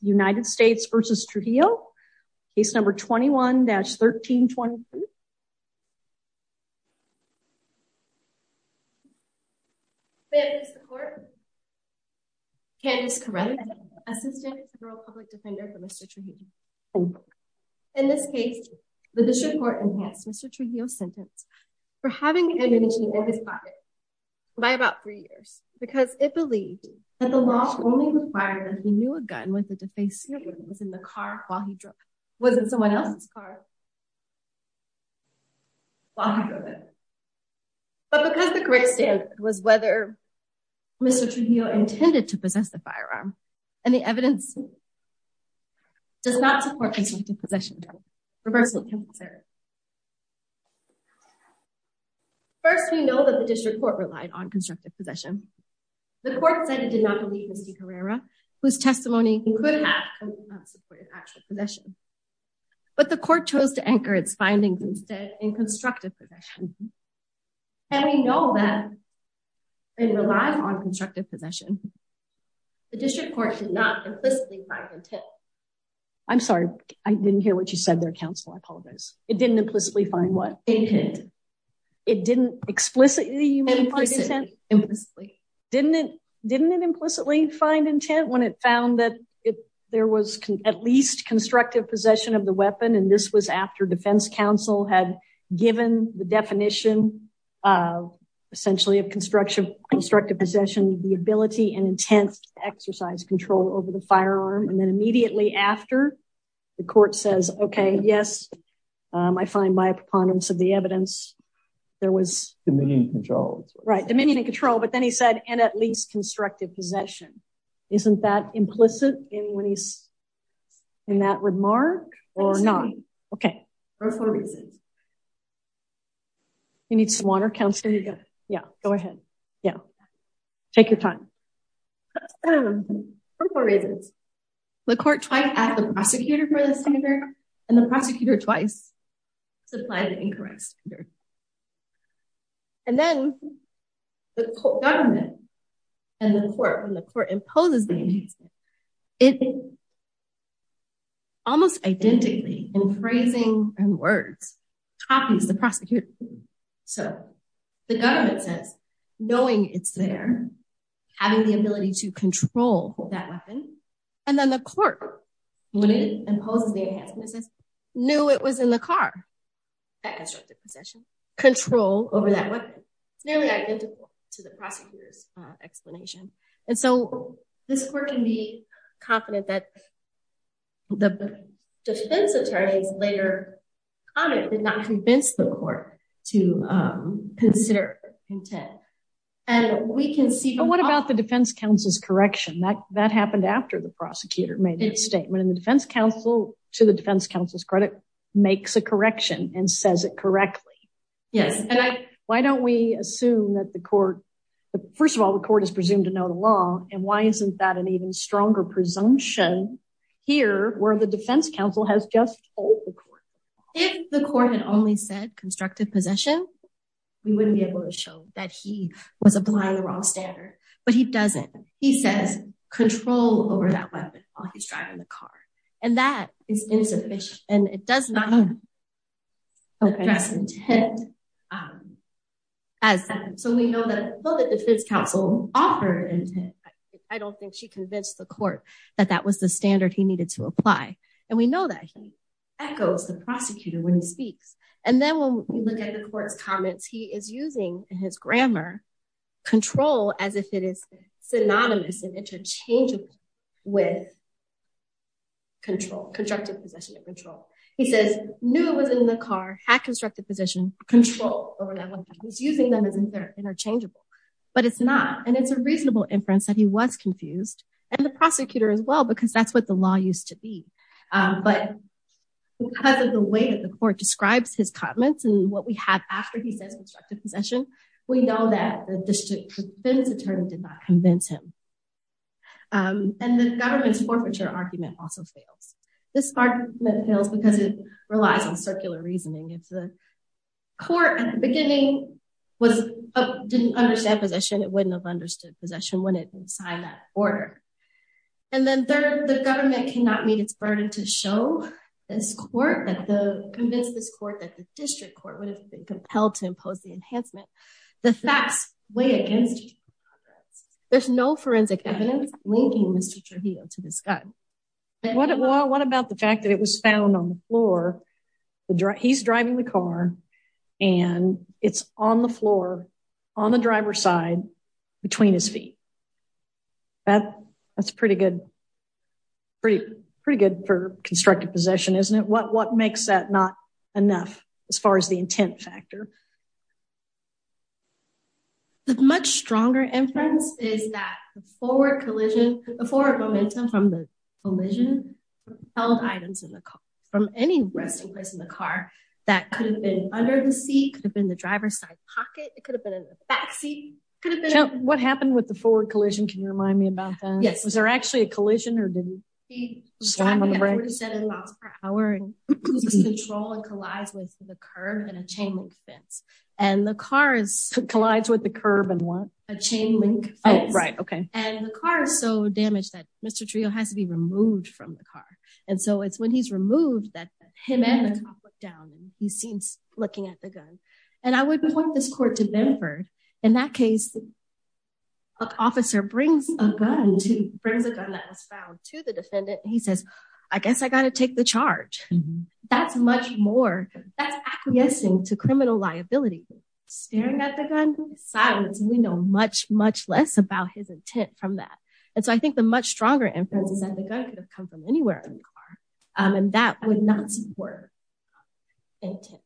United States v. Trujillo. Case number 21-1323. May I please report? Candace Corelli, Assistant Federal Public Defender for Mr. Trujillo. In this case, the district court enhanced Mr. Trujillo's sentence for having ammunition in his pocket by about three years because it believed that the law only required that he a gun with a defaced snipper that was in the car while he drove it. It was in someone else's car while he drove it. But because the correct standard was whether Mr. Trujillo intended to possess the firearm, and the evidence does not support constructive possession, reversing can be considered. First, we know that the district court relied on constructive possession. The court said it did not believe Mr. Carrera, whose testimony could have supported actual possession. But the court chose to anchor its findings instead in constructive possession. And we know that, in relying on constructive possession, the district court did not implicitly find the tip. I'm sorry, I didn't hear what you said there, counsel. I apologize. It didn't explicitly. Didn't it implicitly find intent when it found that there was at least constructive possession of the weapon? And this was after defense counsel had given the definition essentially of constructive possession, the ability and intent to exercise control over the firearm. And then immediately after, the court says, okay, yes, I find by a preponderance of the evidence, there was... Dominion and control. Right. Dominion and control. But then he said, and at least constructive possession. Isn't that implicit in that remark or not? Okay. For four reasons. You need some water, counsel? There you go. Yeah, go ahead. Yeah. Take your time. For four reasons. The court twice asked the prosecutor for the standard, and the prosecutor twice supplied the incorrect standard. And then the government and the court, when the court imposes the enhancement, it almost identically, in phrasing and words, copies the prosecutor. So the government says, knowing it's there, having the ability to control that weapon. And then the court, when it imposes the enhancement, says, knew it was in the car. That constructive possession. Control over that weapon. It's nearly identical to the prosecutor's explanation. And so this court can be confident that the defense attorneys later on did not convince the court to consider intent. And we What about the defense counsel's correction? That happened after the prosecutor made that statement. And the defense counsel, to the defense counsel's credit, makes a correction and says it correctly. Yes. Why don't we assume that the court, first of all, the court is presumed to know the law. And why isn't that an even stronger presumption here where the defense counsel has just told the court? If the court had only said constructive possession, we wouldn't be able to show that he was applying the wrong standard. But he doesn't. He says control over that weapon while he's driving the car. And that is insufficient. And it does not address intent. So we know that the defense counsel offered intent. I don't think she convinced the court that that was the standard he needed to apply. And we know that he echoes the prosecutor when he speaks. And then when we look at the court's comments, he is using his grammar control as if it is synonymous and interchangeable with control, constructive possession of control. He says, knew it was in the car, had constructive position, control over that weapon. He's using them as interchangeable. But it's not. And it's a reasonable inference that he was confused. And the prosecutor as well, because that's what the law used to be. But because of the way that the court describes his comments and what we have after he says constructive possession, we know that the district defense attorney did not convince him. And the government's forfeiture argument also fails. This argument fails because it relies on circular reasoning. If the court at the beginning didn't understand possession, it wouldn't have understood possession when it signed that order. And then third, government cannot meet its burden to show this court that the convinced this court that the district court would have been compelled to impose the enhancement. The facts weigh against. There's no forensic evidence linking Mr. Trujillo to this guy. What about the fact that it was found on the floor? He's driving the car and it's on the floor on the driver's side between his feet. That's pretty good. Pretty good for constructive possession, isn't it? What makes that not enough as far as the intent factor? The much stronger inference is that the forward collision, the forward momentum from the collision held items in the car from any resting place in the car that could have been under the seat, could have been the driver's side pocket. It could have been in the back seat. What happened with the forward collision? Can you remind me about that? Yes. Was there actually a collision or did he? He was driving at 47 miles per hour and his control collides with the curb and a chain link fence. And the car is... Collides with the curb and what? A chain link fence. Oh, right. Okay. And the car is so damaged that Mr. Trujillo has to be removed from the car. And so it's when he's And I would point this court to Benford. In that case, an officer brings a gun that was found to the defendant. He says, I guess I got to take the charge. That's much more, that's acquiescing to criminal liability. Staring at the gun, silence, we know much, much less about his intent from that. And so I think the much stronger inference is that the gun could have come from anywhere in the car and that would not support intent.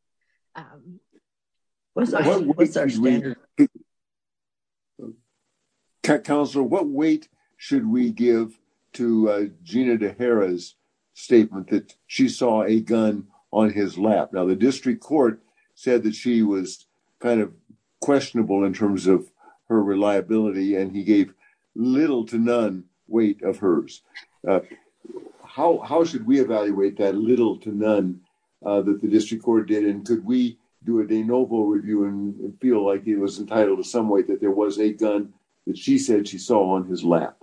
Counselor, what weight should we give to Gina DeHara's statement that she saw a gun on his lap? Now the district court said that she was kind of questionable in terms of her reliability and he evaluate that little to none that the district court did. And could we do a DeNoble review and feel like he was entitled to some weight that there was a gun that she said she saw on his lap?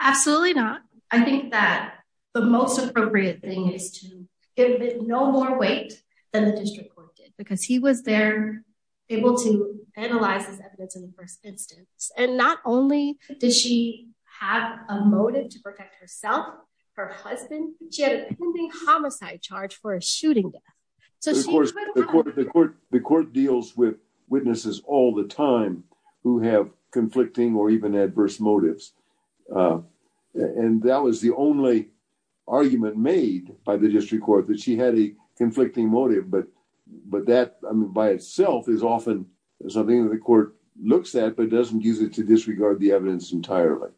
Absolutely not. I think that the most appropriate thing is to give it no more weight than the district court did because he was there able to analyze this evidence in the first instance. And not only did she have a motive to protect herself, her husband, she had a pending homicide charge for a shooting death. The court deals with witnesses all the time who have conflicting or even adverse motives. And that was the only argument made by the district court that she had a conflicting motive. But that by itself is often something that the court looks at but doesn't to disregard the evidence entirely.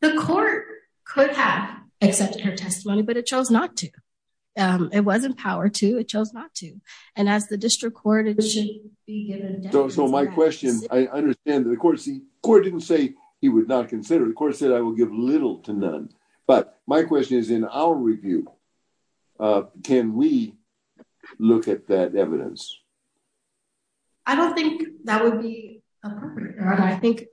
The court could have accepted her testimony but it chose not to. It wasn't power to, it chose not to. And as the district court it should be given. So my question, I understand that the court didn't say he would not consider. The court said I will give little to none. But my question is in our review, can we look at that evidence? I don't think that would be appropriate. I think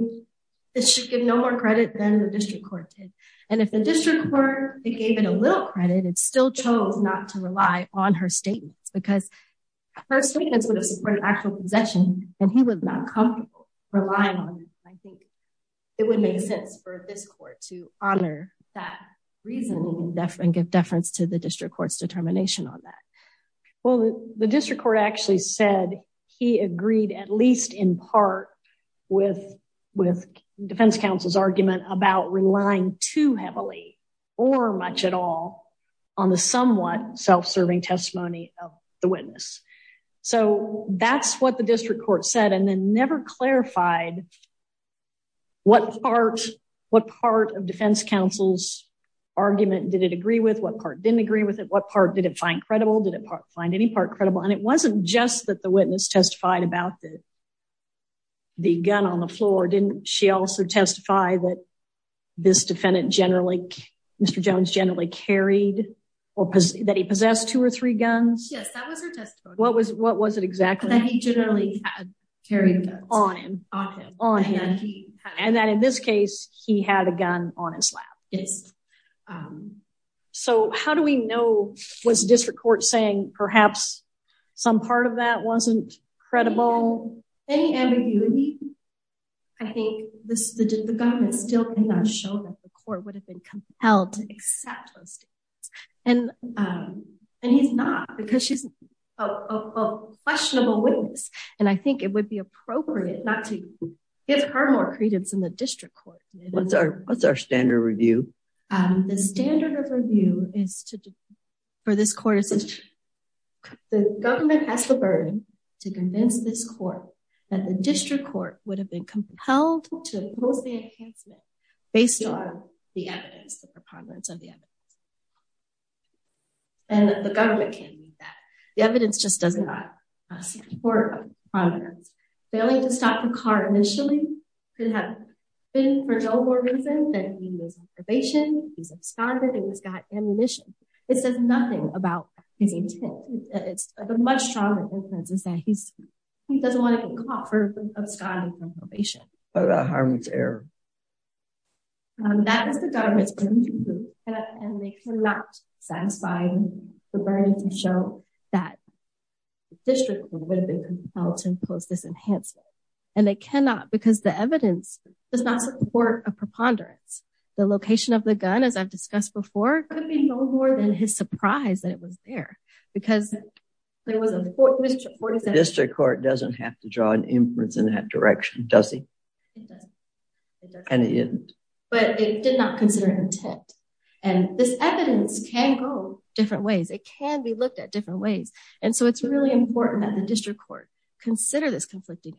it should give no more credit than the district court did. And if the district court, it gave it a little credit, it still chose not to rely on her statements. Because her statements would have supported actual possession and he was not comfortable relying on it. I think it would make sense for this court to honor that reason and give deference to the district court's determination on that. Well, the district court actually said he agreed at least in part with defense counsel's argument about relying too heavily or much at all on the somewhat self-serving testimony of the witness. So that's what the district court said and then never clarified what part of defense counsel's argument did it agree with, what part didn't agree with it, what part did it find credible, did it find any part credible. And it wasn't just that the witness testified about the gun on the floor, didn't she also testify that this defendant generally, Mr. Jones generally carried or that he possessed two or three guns? Yes, that was her testimony. What was it exactly? That he generally carried a gun on him. On him. And that in this case, he had a gun on his lap. Yes. So how do we know, was the district court saying perhaps some part of that wasn't credible? Any ambiguity? I think the government still cannot show that the court would have been compelled to accept those statements. And he's not because she's a questionable witness and I think it would be appropriate not to give her more credence in the district court. What's our standard review? The standard of review is to, for this court, the government has the burden to convince this court that the district court would have been compelled to oppose the enhancement based on the evidence, the preponderance of the evidence. And the government can't do that. The evidence just does not support the evidence. Failing to stop the car initially could have been for no more reason than he was in probation, he was absconded, he was got ammunition. It says nothing about his intent. It's the much stronger evidence is that he's, he doesn't want to be caught for absconding from probation. What about Harmon's error? That is the government's burden to prove and they cannot satisfy the burden to show that the district would have been compelled to impose this enhancement. And they cannot because the evidence does not support a preponderance. The location of the gun, as I've discussed before, could be no more than his surprise that it was there because there was a court. District court doesn't have to draw an inference in that direction, does he? It doesn't. And it didn't. But it did not consider intent. And this evidence can go different ways. It can be looked at different ways. And so it's really important that the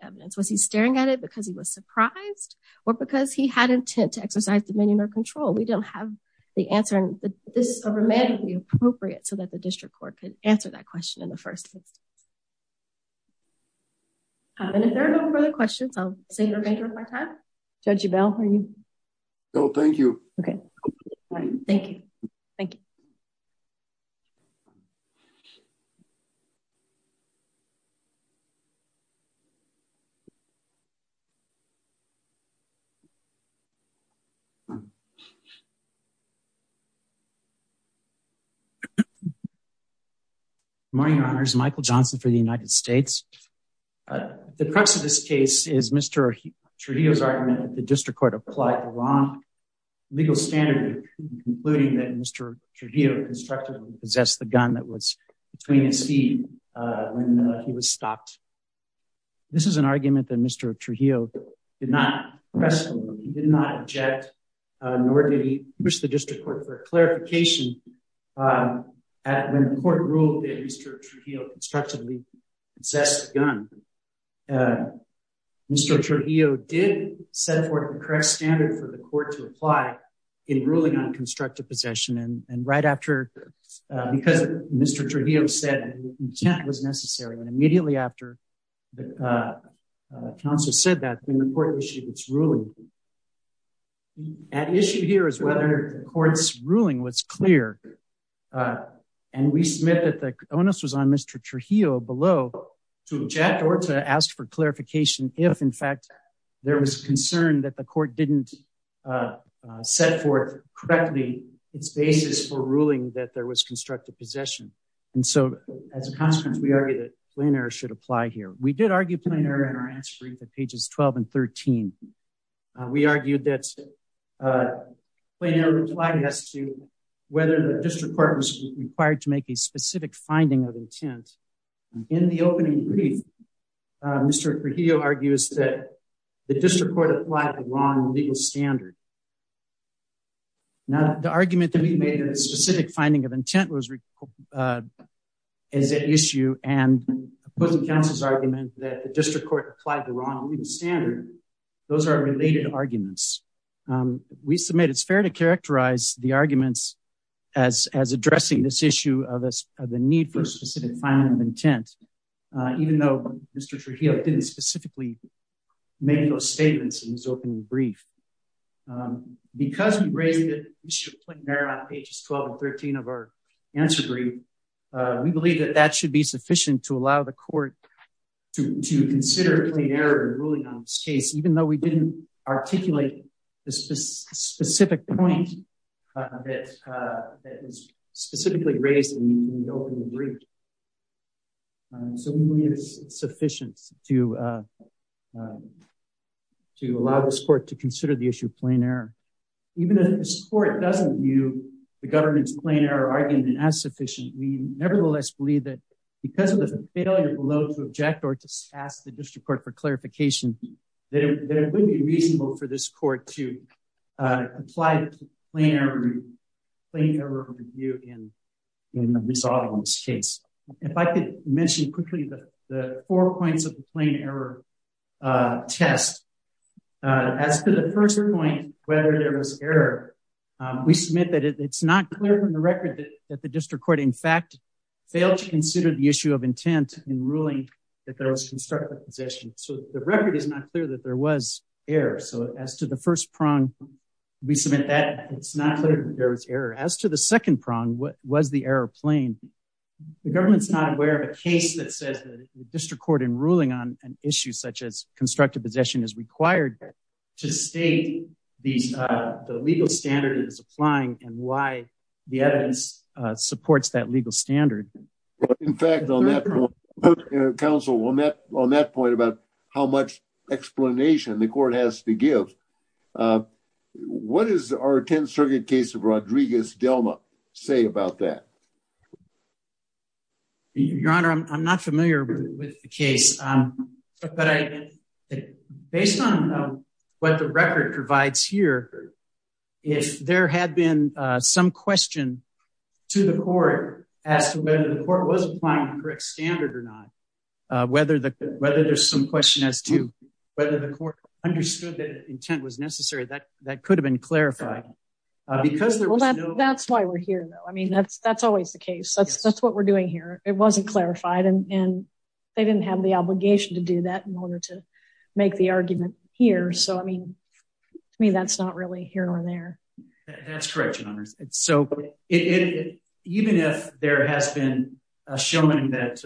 evidence was he staring at it because he was surprised, or because he had intent to exercise dominion or control, we don't have the answer. And this is a remedy appropriate so that the district court could answer that question in the first instance. And if there are no questions, I'll turn it over to Michael Johnson for the United States. The crux of this case is Mr. Trujillo's argument that the district court applied the wrong legal standard in concluding that Mr. Trujillo constructively possessed the gun that was between his feet when he was stopped. This is an argument that Mr. Trujillo did not press, he did not object, nor did he push the district court for clarification. When the court ruled that Mr. Trujillo constructively possessed the gun, Mr. Trujillo did set forth the correct standard for the court to apply in ruling on constructive possession. And right after, because Mr. Trujillo said intent was necessary, and immediately after the counsel said that, when the court issued its ruling, at issue here is whether the court's ruling was clear. And we submit that the onus was on Mr. Trujillo below to object or to ask for clarification if in fact, there was concern that the court didn't set forth correctly its basis for ruling that there was constructive possession. And so as a consequence, we argue that plain error should apply here. We did argue plain error in our answer brief at pages 12 and 13. We argued that plain error applied as to whether the district court was required to make a specific finding of intent. In the opening brief, Mr. Trujillo argues that the district court applied the wrong legal standard. Now, the argument that we made that a specific finding of intent was at issue and opposing counsel's argument that the district court applied the wrong legal standard, those are related arguments. We submit it's fair to characterize the arguments as addressing this issue of the need for a specific finding of intent, even though Mr. Trujillo didn't specifically make those statements in his opening brief. Because we raised the issue of plain error on pages 12 and 13 of our answer brief, we believe that that should be sufficient to allow the court to consider plain error in ruling on this case, even though we didn't articulate the specific point that was specifically raised in the opening brief. So we believe it's sufficient to allow this court to consider the issue of plain error. Even if this court doesn't view the government's plain error argument as sufficient, we nevertheless believe that because of the failure below to object or to ask the district court for clarification, that it would be reasonable for this court to apply plain error review in resolving this case. If I could mention quickly the four points of the plain error test. As for the first point, whether there was error, we submit that it's not clear from the record that the district court in fact failed to consider the issue of intent in ruling that there was constructive possession. So the record is not clear that there was error. So as to the first prong, we submit that it's not clear that there was error. As to the second prong, what was the error plain? The government's not aware of a case that says that the district court in ruling on an issue such as constructive possession is required to state the legal standard that is applying and why the evidence supports that legal standard. In fact, on that point, counsel, on that point about how much explanation the court has to give, what does our 10th Circuit case of Rodriguez-Delma say about that? Your Honor, I'm not familiar with the case, but based on what the record provides here, if there had been some question to the court as to whether the court was applying the correct standard or not, whether there's some question as to whether the court understood that intent was necessary, that could have been clarified. That's why we're here though. I mean, that's always the case. That's what we're doing here. It wasn't clarified and they didn't have the way here or there. That's correct, Your Honor. Even if there has been a showing that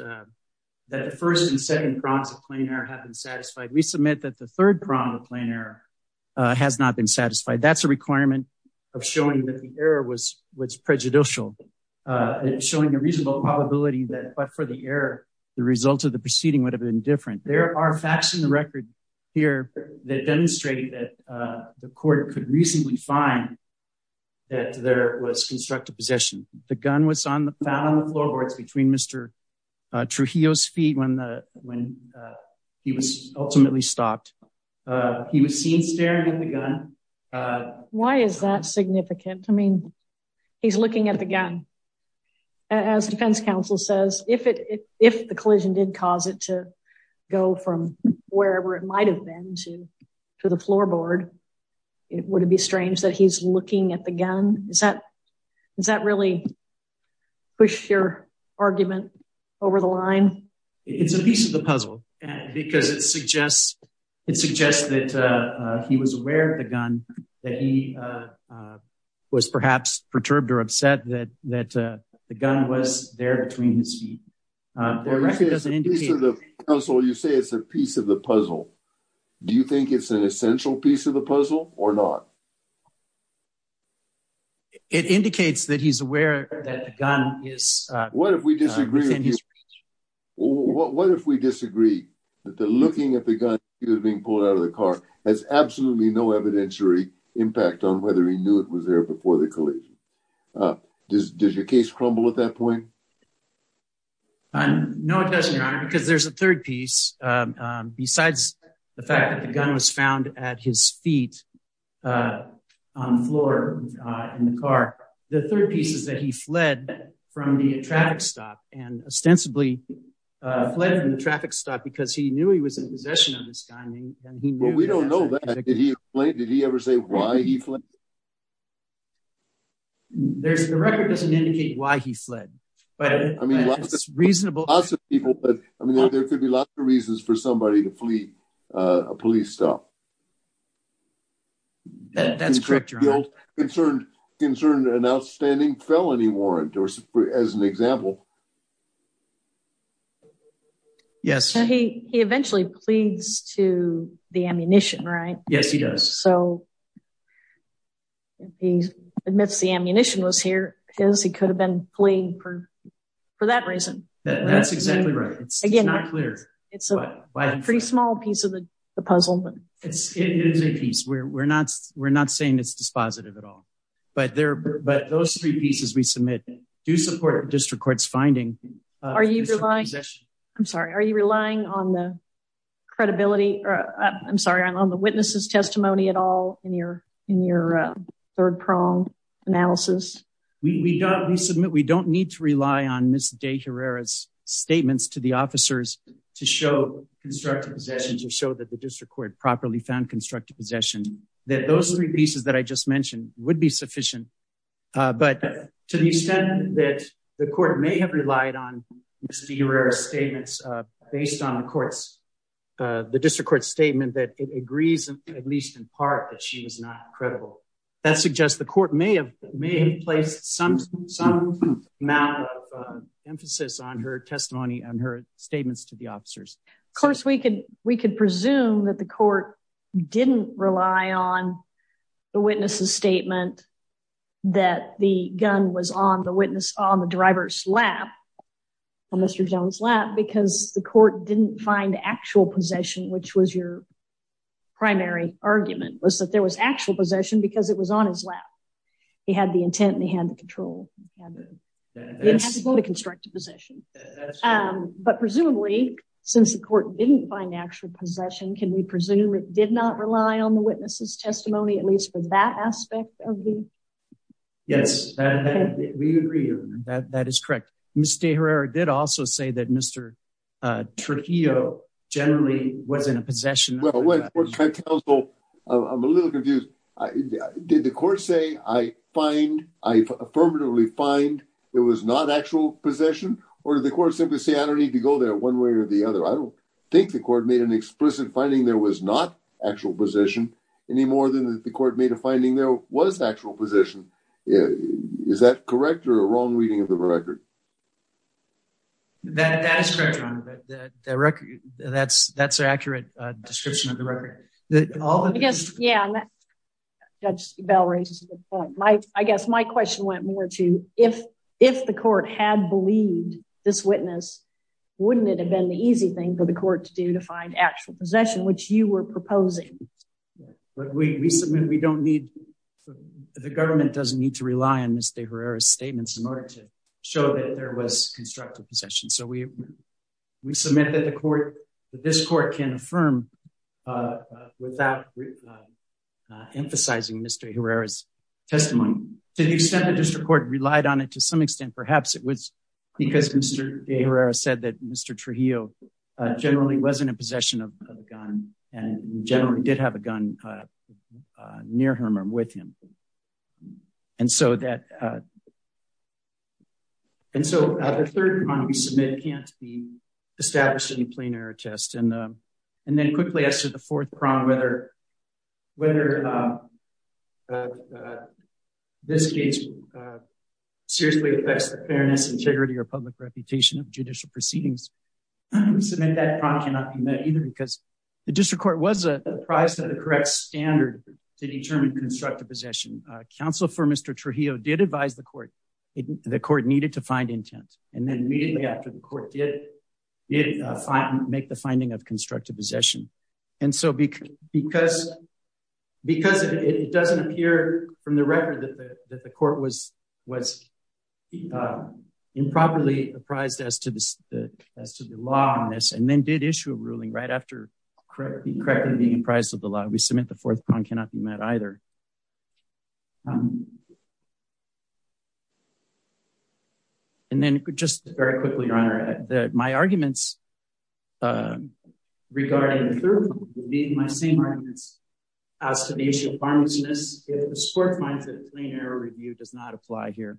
the first and second prongs of plain error have been satisfied, we submit that the third prong of plain error has not been satisfied. That's a requirement of showing that the error was prejudicial and showing a reasonable probability that but for the error, the result of the proceeding would have been different. There are facts in the record here that demonstrate that the court could reasonably find that there was constructive possession. The gun was found on the floorboards between Mr. Trujillo's feet when he was ultimately stopped. He was seen staring at the gun. Why is that significant? I mean, he's looking at the gun. As defense counsel says, if the collision did cause it to go from wherever it might have been to the floorboard, it wouldn't be strange that he's looking at the gun. Does that really push your argument over the line? It's a piece of the puzzle because it suggests that he was aware of the gun, that he was perhaps perturbed or upset that the gun was there between his feet. You say it's a piece of the puzzle. Do you think it's an essential piece of the puzzle or not? It indicates that he's aware that the gun is... What if we disagree? What if we disagree that the looking at the gun that was being pulled out of the car has absolutely no evidentiary impact on whether he knew it was there before the collision? Does your case crumble at that point? No, it doesn't, Your Honor, because there's a third piece. Besides the fact that the gun was found at his feet on the floor in the car, the third piece is that he fled from the traffic stop and ostensibly fled from the traffic stop because he knew he was in possession of this gun. Well, we don't know that. Did he ever say why he fled? The record doesn't indicate why he fled, but it's reasonable. I mean, there could be lots of reasons for somebody to flee a police stop. That's correct, Your Honor. Concerned an outstanding felony warrant or as an example. Yes, he eventually pleads to the ammunition, right? Yes, he does. So he admits the ammunition was here because he could have been playing for that reason. That's exactly right. It's not clear. It's a pretty small piece of the puzzle. It is a piece. We're not saying it's dispositive at all, but those three pieces we submit do support the district court's finding. I'm sorry. Are you relying on the witnesses' testimony at all in your third-prong analysis? We don't need to rely on Ms. De Herrera's statements to the officers to show constructive possessions or show that the district court properly found constructive possession. That those three pieces that I just mentioned would be sufficient. But to the extent that the court may have relied on Ms. De Herrera's statements based on the district court's statement that it agrees, at least in part, that she was not credible, that suggests the court may have placed some amount of emphasis on her testimony and her statements to the officers. Of course, we could presume that the court didn't rely on the witnesses' statement that the gun was on the driver's lap, on Mr. Jones' lap, because the court didn't find actual possession, which was your primary argument, was that there was actual possession because it was on his lap. He had the intent and he had the control. He didn't have to go to constructive possession. That's true. But presumably, since the court didn't find actual possession, can we presume it did not rely on the witnesses' testimony, at least for that aspect of the... Yes, we agree on that. That is correct. Ms. De Herrera did also say that Mr. Trujillo generally was in possession. I'm a little confused. Did the court say, I find, I affirmatively find it was not actual possession, or did the court simply say, I don't need to go there one way or the other? I don't think the court made an explicit finding there was not actual possession any more than the court made a finding there was actual possession. Is that correct or a wrong reading of the record? That is correct, Your Honor. That's an accurate description of the record. Yeah, Judge Bell raises a good point. I guess my question went more to, if the court had believed this witness, wouldn't it have been the easy thing for the court to do to find actual possession, which you were proposing? But we submit we don't need... The government doesn't need to rely on Ms. De Herrera's statements in order to show that there was constructive possession. So we submit that this court can affirm without emphasizing Ms. De Herrera's testimony. To the extent the district court relied on it, to some extent, perhaps it was because Mr. De Herrera said that Mr. Trujillo generally wasn't in possession of a gun, and generally did have a gun near him or with him. And so that... And so the third one we submit can't be established in the plain error test. And quickly as to the fourth prong, whether this case seriously affects the fairness and charity or public reputation of judicial proceedings, we submit that prong cannot be met either, because the district court was apprised of the correct standard to determine constructive possession. Counsel for Mr. Trujillo did advise the court the court needed to find intent. And then immediately after the court did make the finding of constructive possession. And so because it doesn't appear from the record that the court was improperly apprised as to the law on this, and then did issue a ruling right after being apprised of the law, we submit the fourth prong cannot be met either. And then just very quickly, Your Honor, that my arguments regarding the third prong being my same arguments as to the issue of farmlessness, if the court finds that the plain error review does not apply here,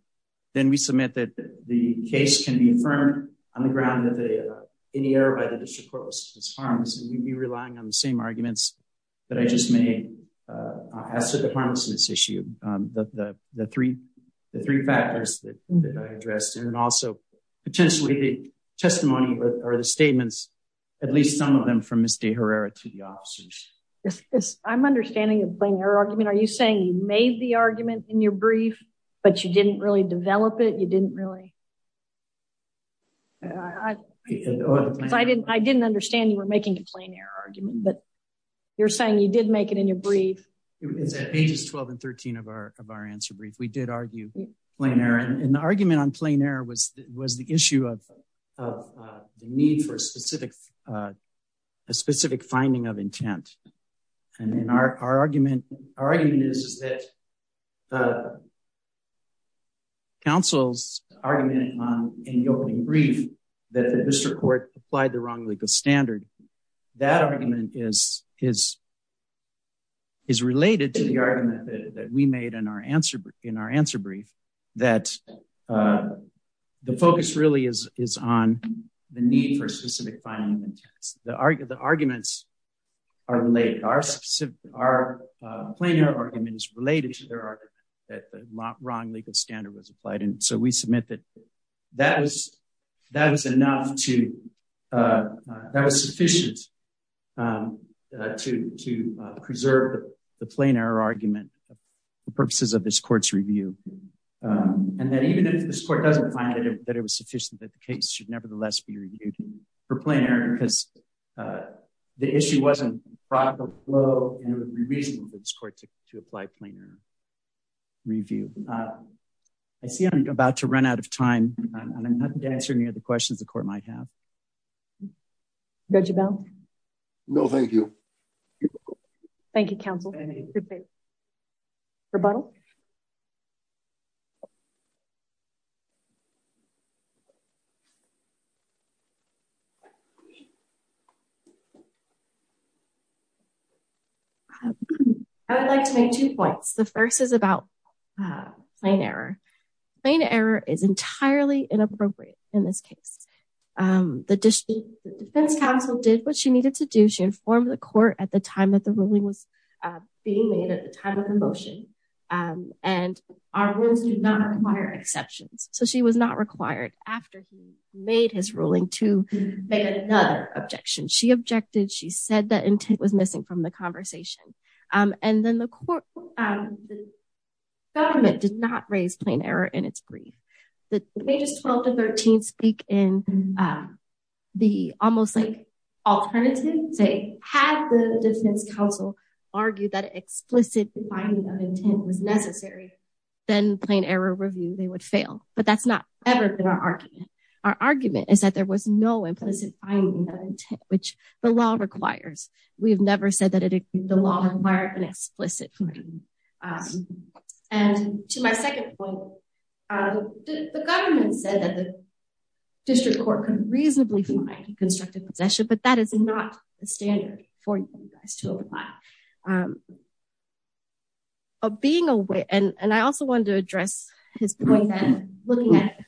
then we submit that the case can be affirmed on the ground that any error by the district court was harmless, and you'd be relying on the same arguments that I just made as to the farmlessness issue, the three factors that I addressed, and also potentially the testimony or the statements, at least some of them from Ms. De Herrera to the officers. I'm understanding the plain error argument. Are you saying you made the argument in your brief, but you didn't really develop it? You didn't really? I didn't understand you were making a plain error argument, but you're saying you did make it in your brief? It's at pages 12 and 13 of our answer brief. We did argue plain error, and the argument on plain error was the issue of the need for a in the opening brief that the district court applied the wrong legal standard. That argument is related to the argument that we made in our answer brief that the focus really is on the need for a specific finding of intent. The arguments are related. Our plain error argument is related that the wrong legal standard was applied. We submit that that was sufficient to preserve the plain error argument for purposes of this court's review. Even if this court doesn't find that it was sufficient, that the case should nevertheless be reviewed for plain error because the issue wasn't a product of flow, and it would be reasonable for this court to apply plain error review. I see I'm about to run out of time, and I'm not answering any of the questions the court might have. Judge Abell? No, thank you. Thank you, counsel. Rebuttal? I would like to make two points. The first is about plain error. Plain error is entirely inappropriate in this case. The defense counsel did what she needed to do. She informed the court at the time that the ruling was being made at the time of the motion, and our rules do not require exceptions, so she was not required after he made his ruling to make another objection. She objected. She said that intent was missing from the conversation, and then the court, the government did not raise plain error in its brief. The pages 12 to 13 speak in the almost like alternative, say, had the defense counsel argued that explicit defining of intent was necessary, then plain error review, they would fail, but that's not ever been our argument. Our argument is that there was no implicit finding of intent, which the law requires. We've never said that the law required an explicit finding, and to my second point, the government said that the district court could reasonably find a constructive possession, but that is not the standard for you guys to apply. Being aware, and I also wanted to address his point that looking at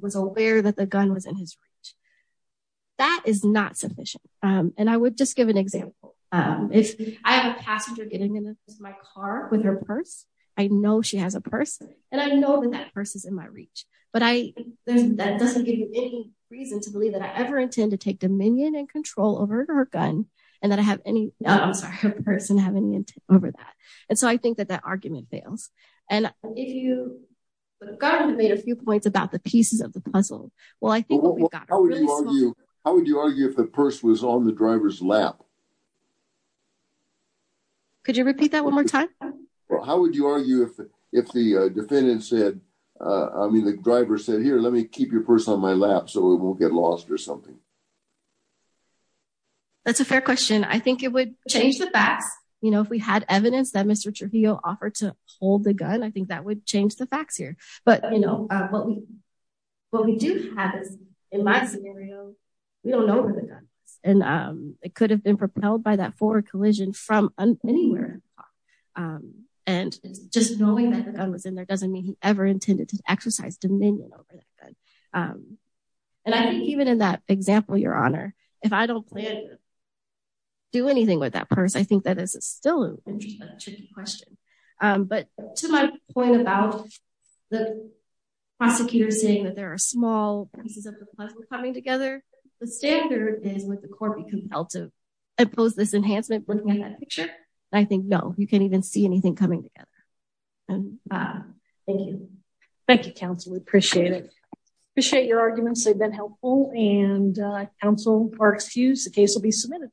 was aware that the gun was in his reach. That is not sufficient, and I would just give an example. If I have a passenger getting in my car with her purse, I know she has a purse, and I know that that purse is in my reach, but that doesn't give you any reason to believe that I ever intend to take dominion and control over her gun, and that I have any, I'm sorry, her person have any intent over that, and so I think that that argument fails, and if you, the government made a few points about the pieces of the puzzle. Well, I think what we've got. How would you argue if the purse was on the driver's lap? Could you repeat that one more time? Well, how would you argue if the defendant said, I mean, the driver said, here, let me keep your purse on my lap so we won't get lost or something? That's a fair question. I think it would change the facts. You know, if we had evidence that Mr. Trujillo offered to hold the gun, I think that would change the facts here, but you know, what we do have is in my scenario, we don't know where the gun is, and it could have been propelled by that forward collision from anywhere, and just knowing that the gun was in there doesn't mean he ever intended to exercise dominion over that gun. I think even in that example, Your Honor, if I don't plan to do anything with that purse, I think that is still a tricky question, but to my point about the prosecutor saying that there are small pieces of the puzzle coming together, the standard is would the court be compelled to oppose this enhancement looking at that picture? I think no. You can't even see anything coming together. Thank you. Thank you, counsel. We appreciate it. Appreciate your arguments. They've been helpful and counsel are excused. The case will be submitted.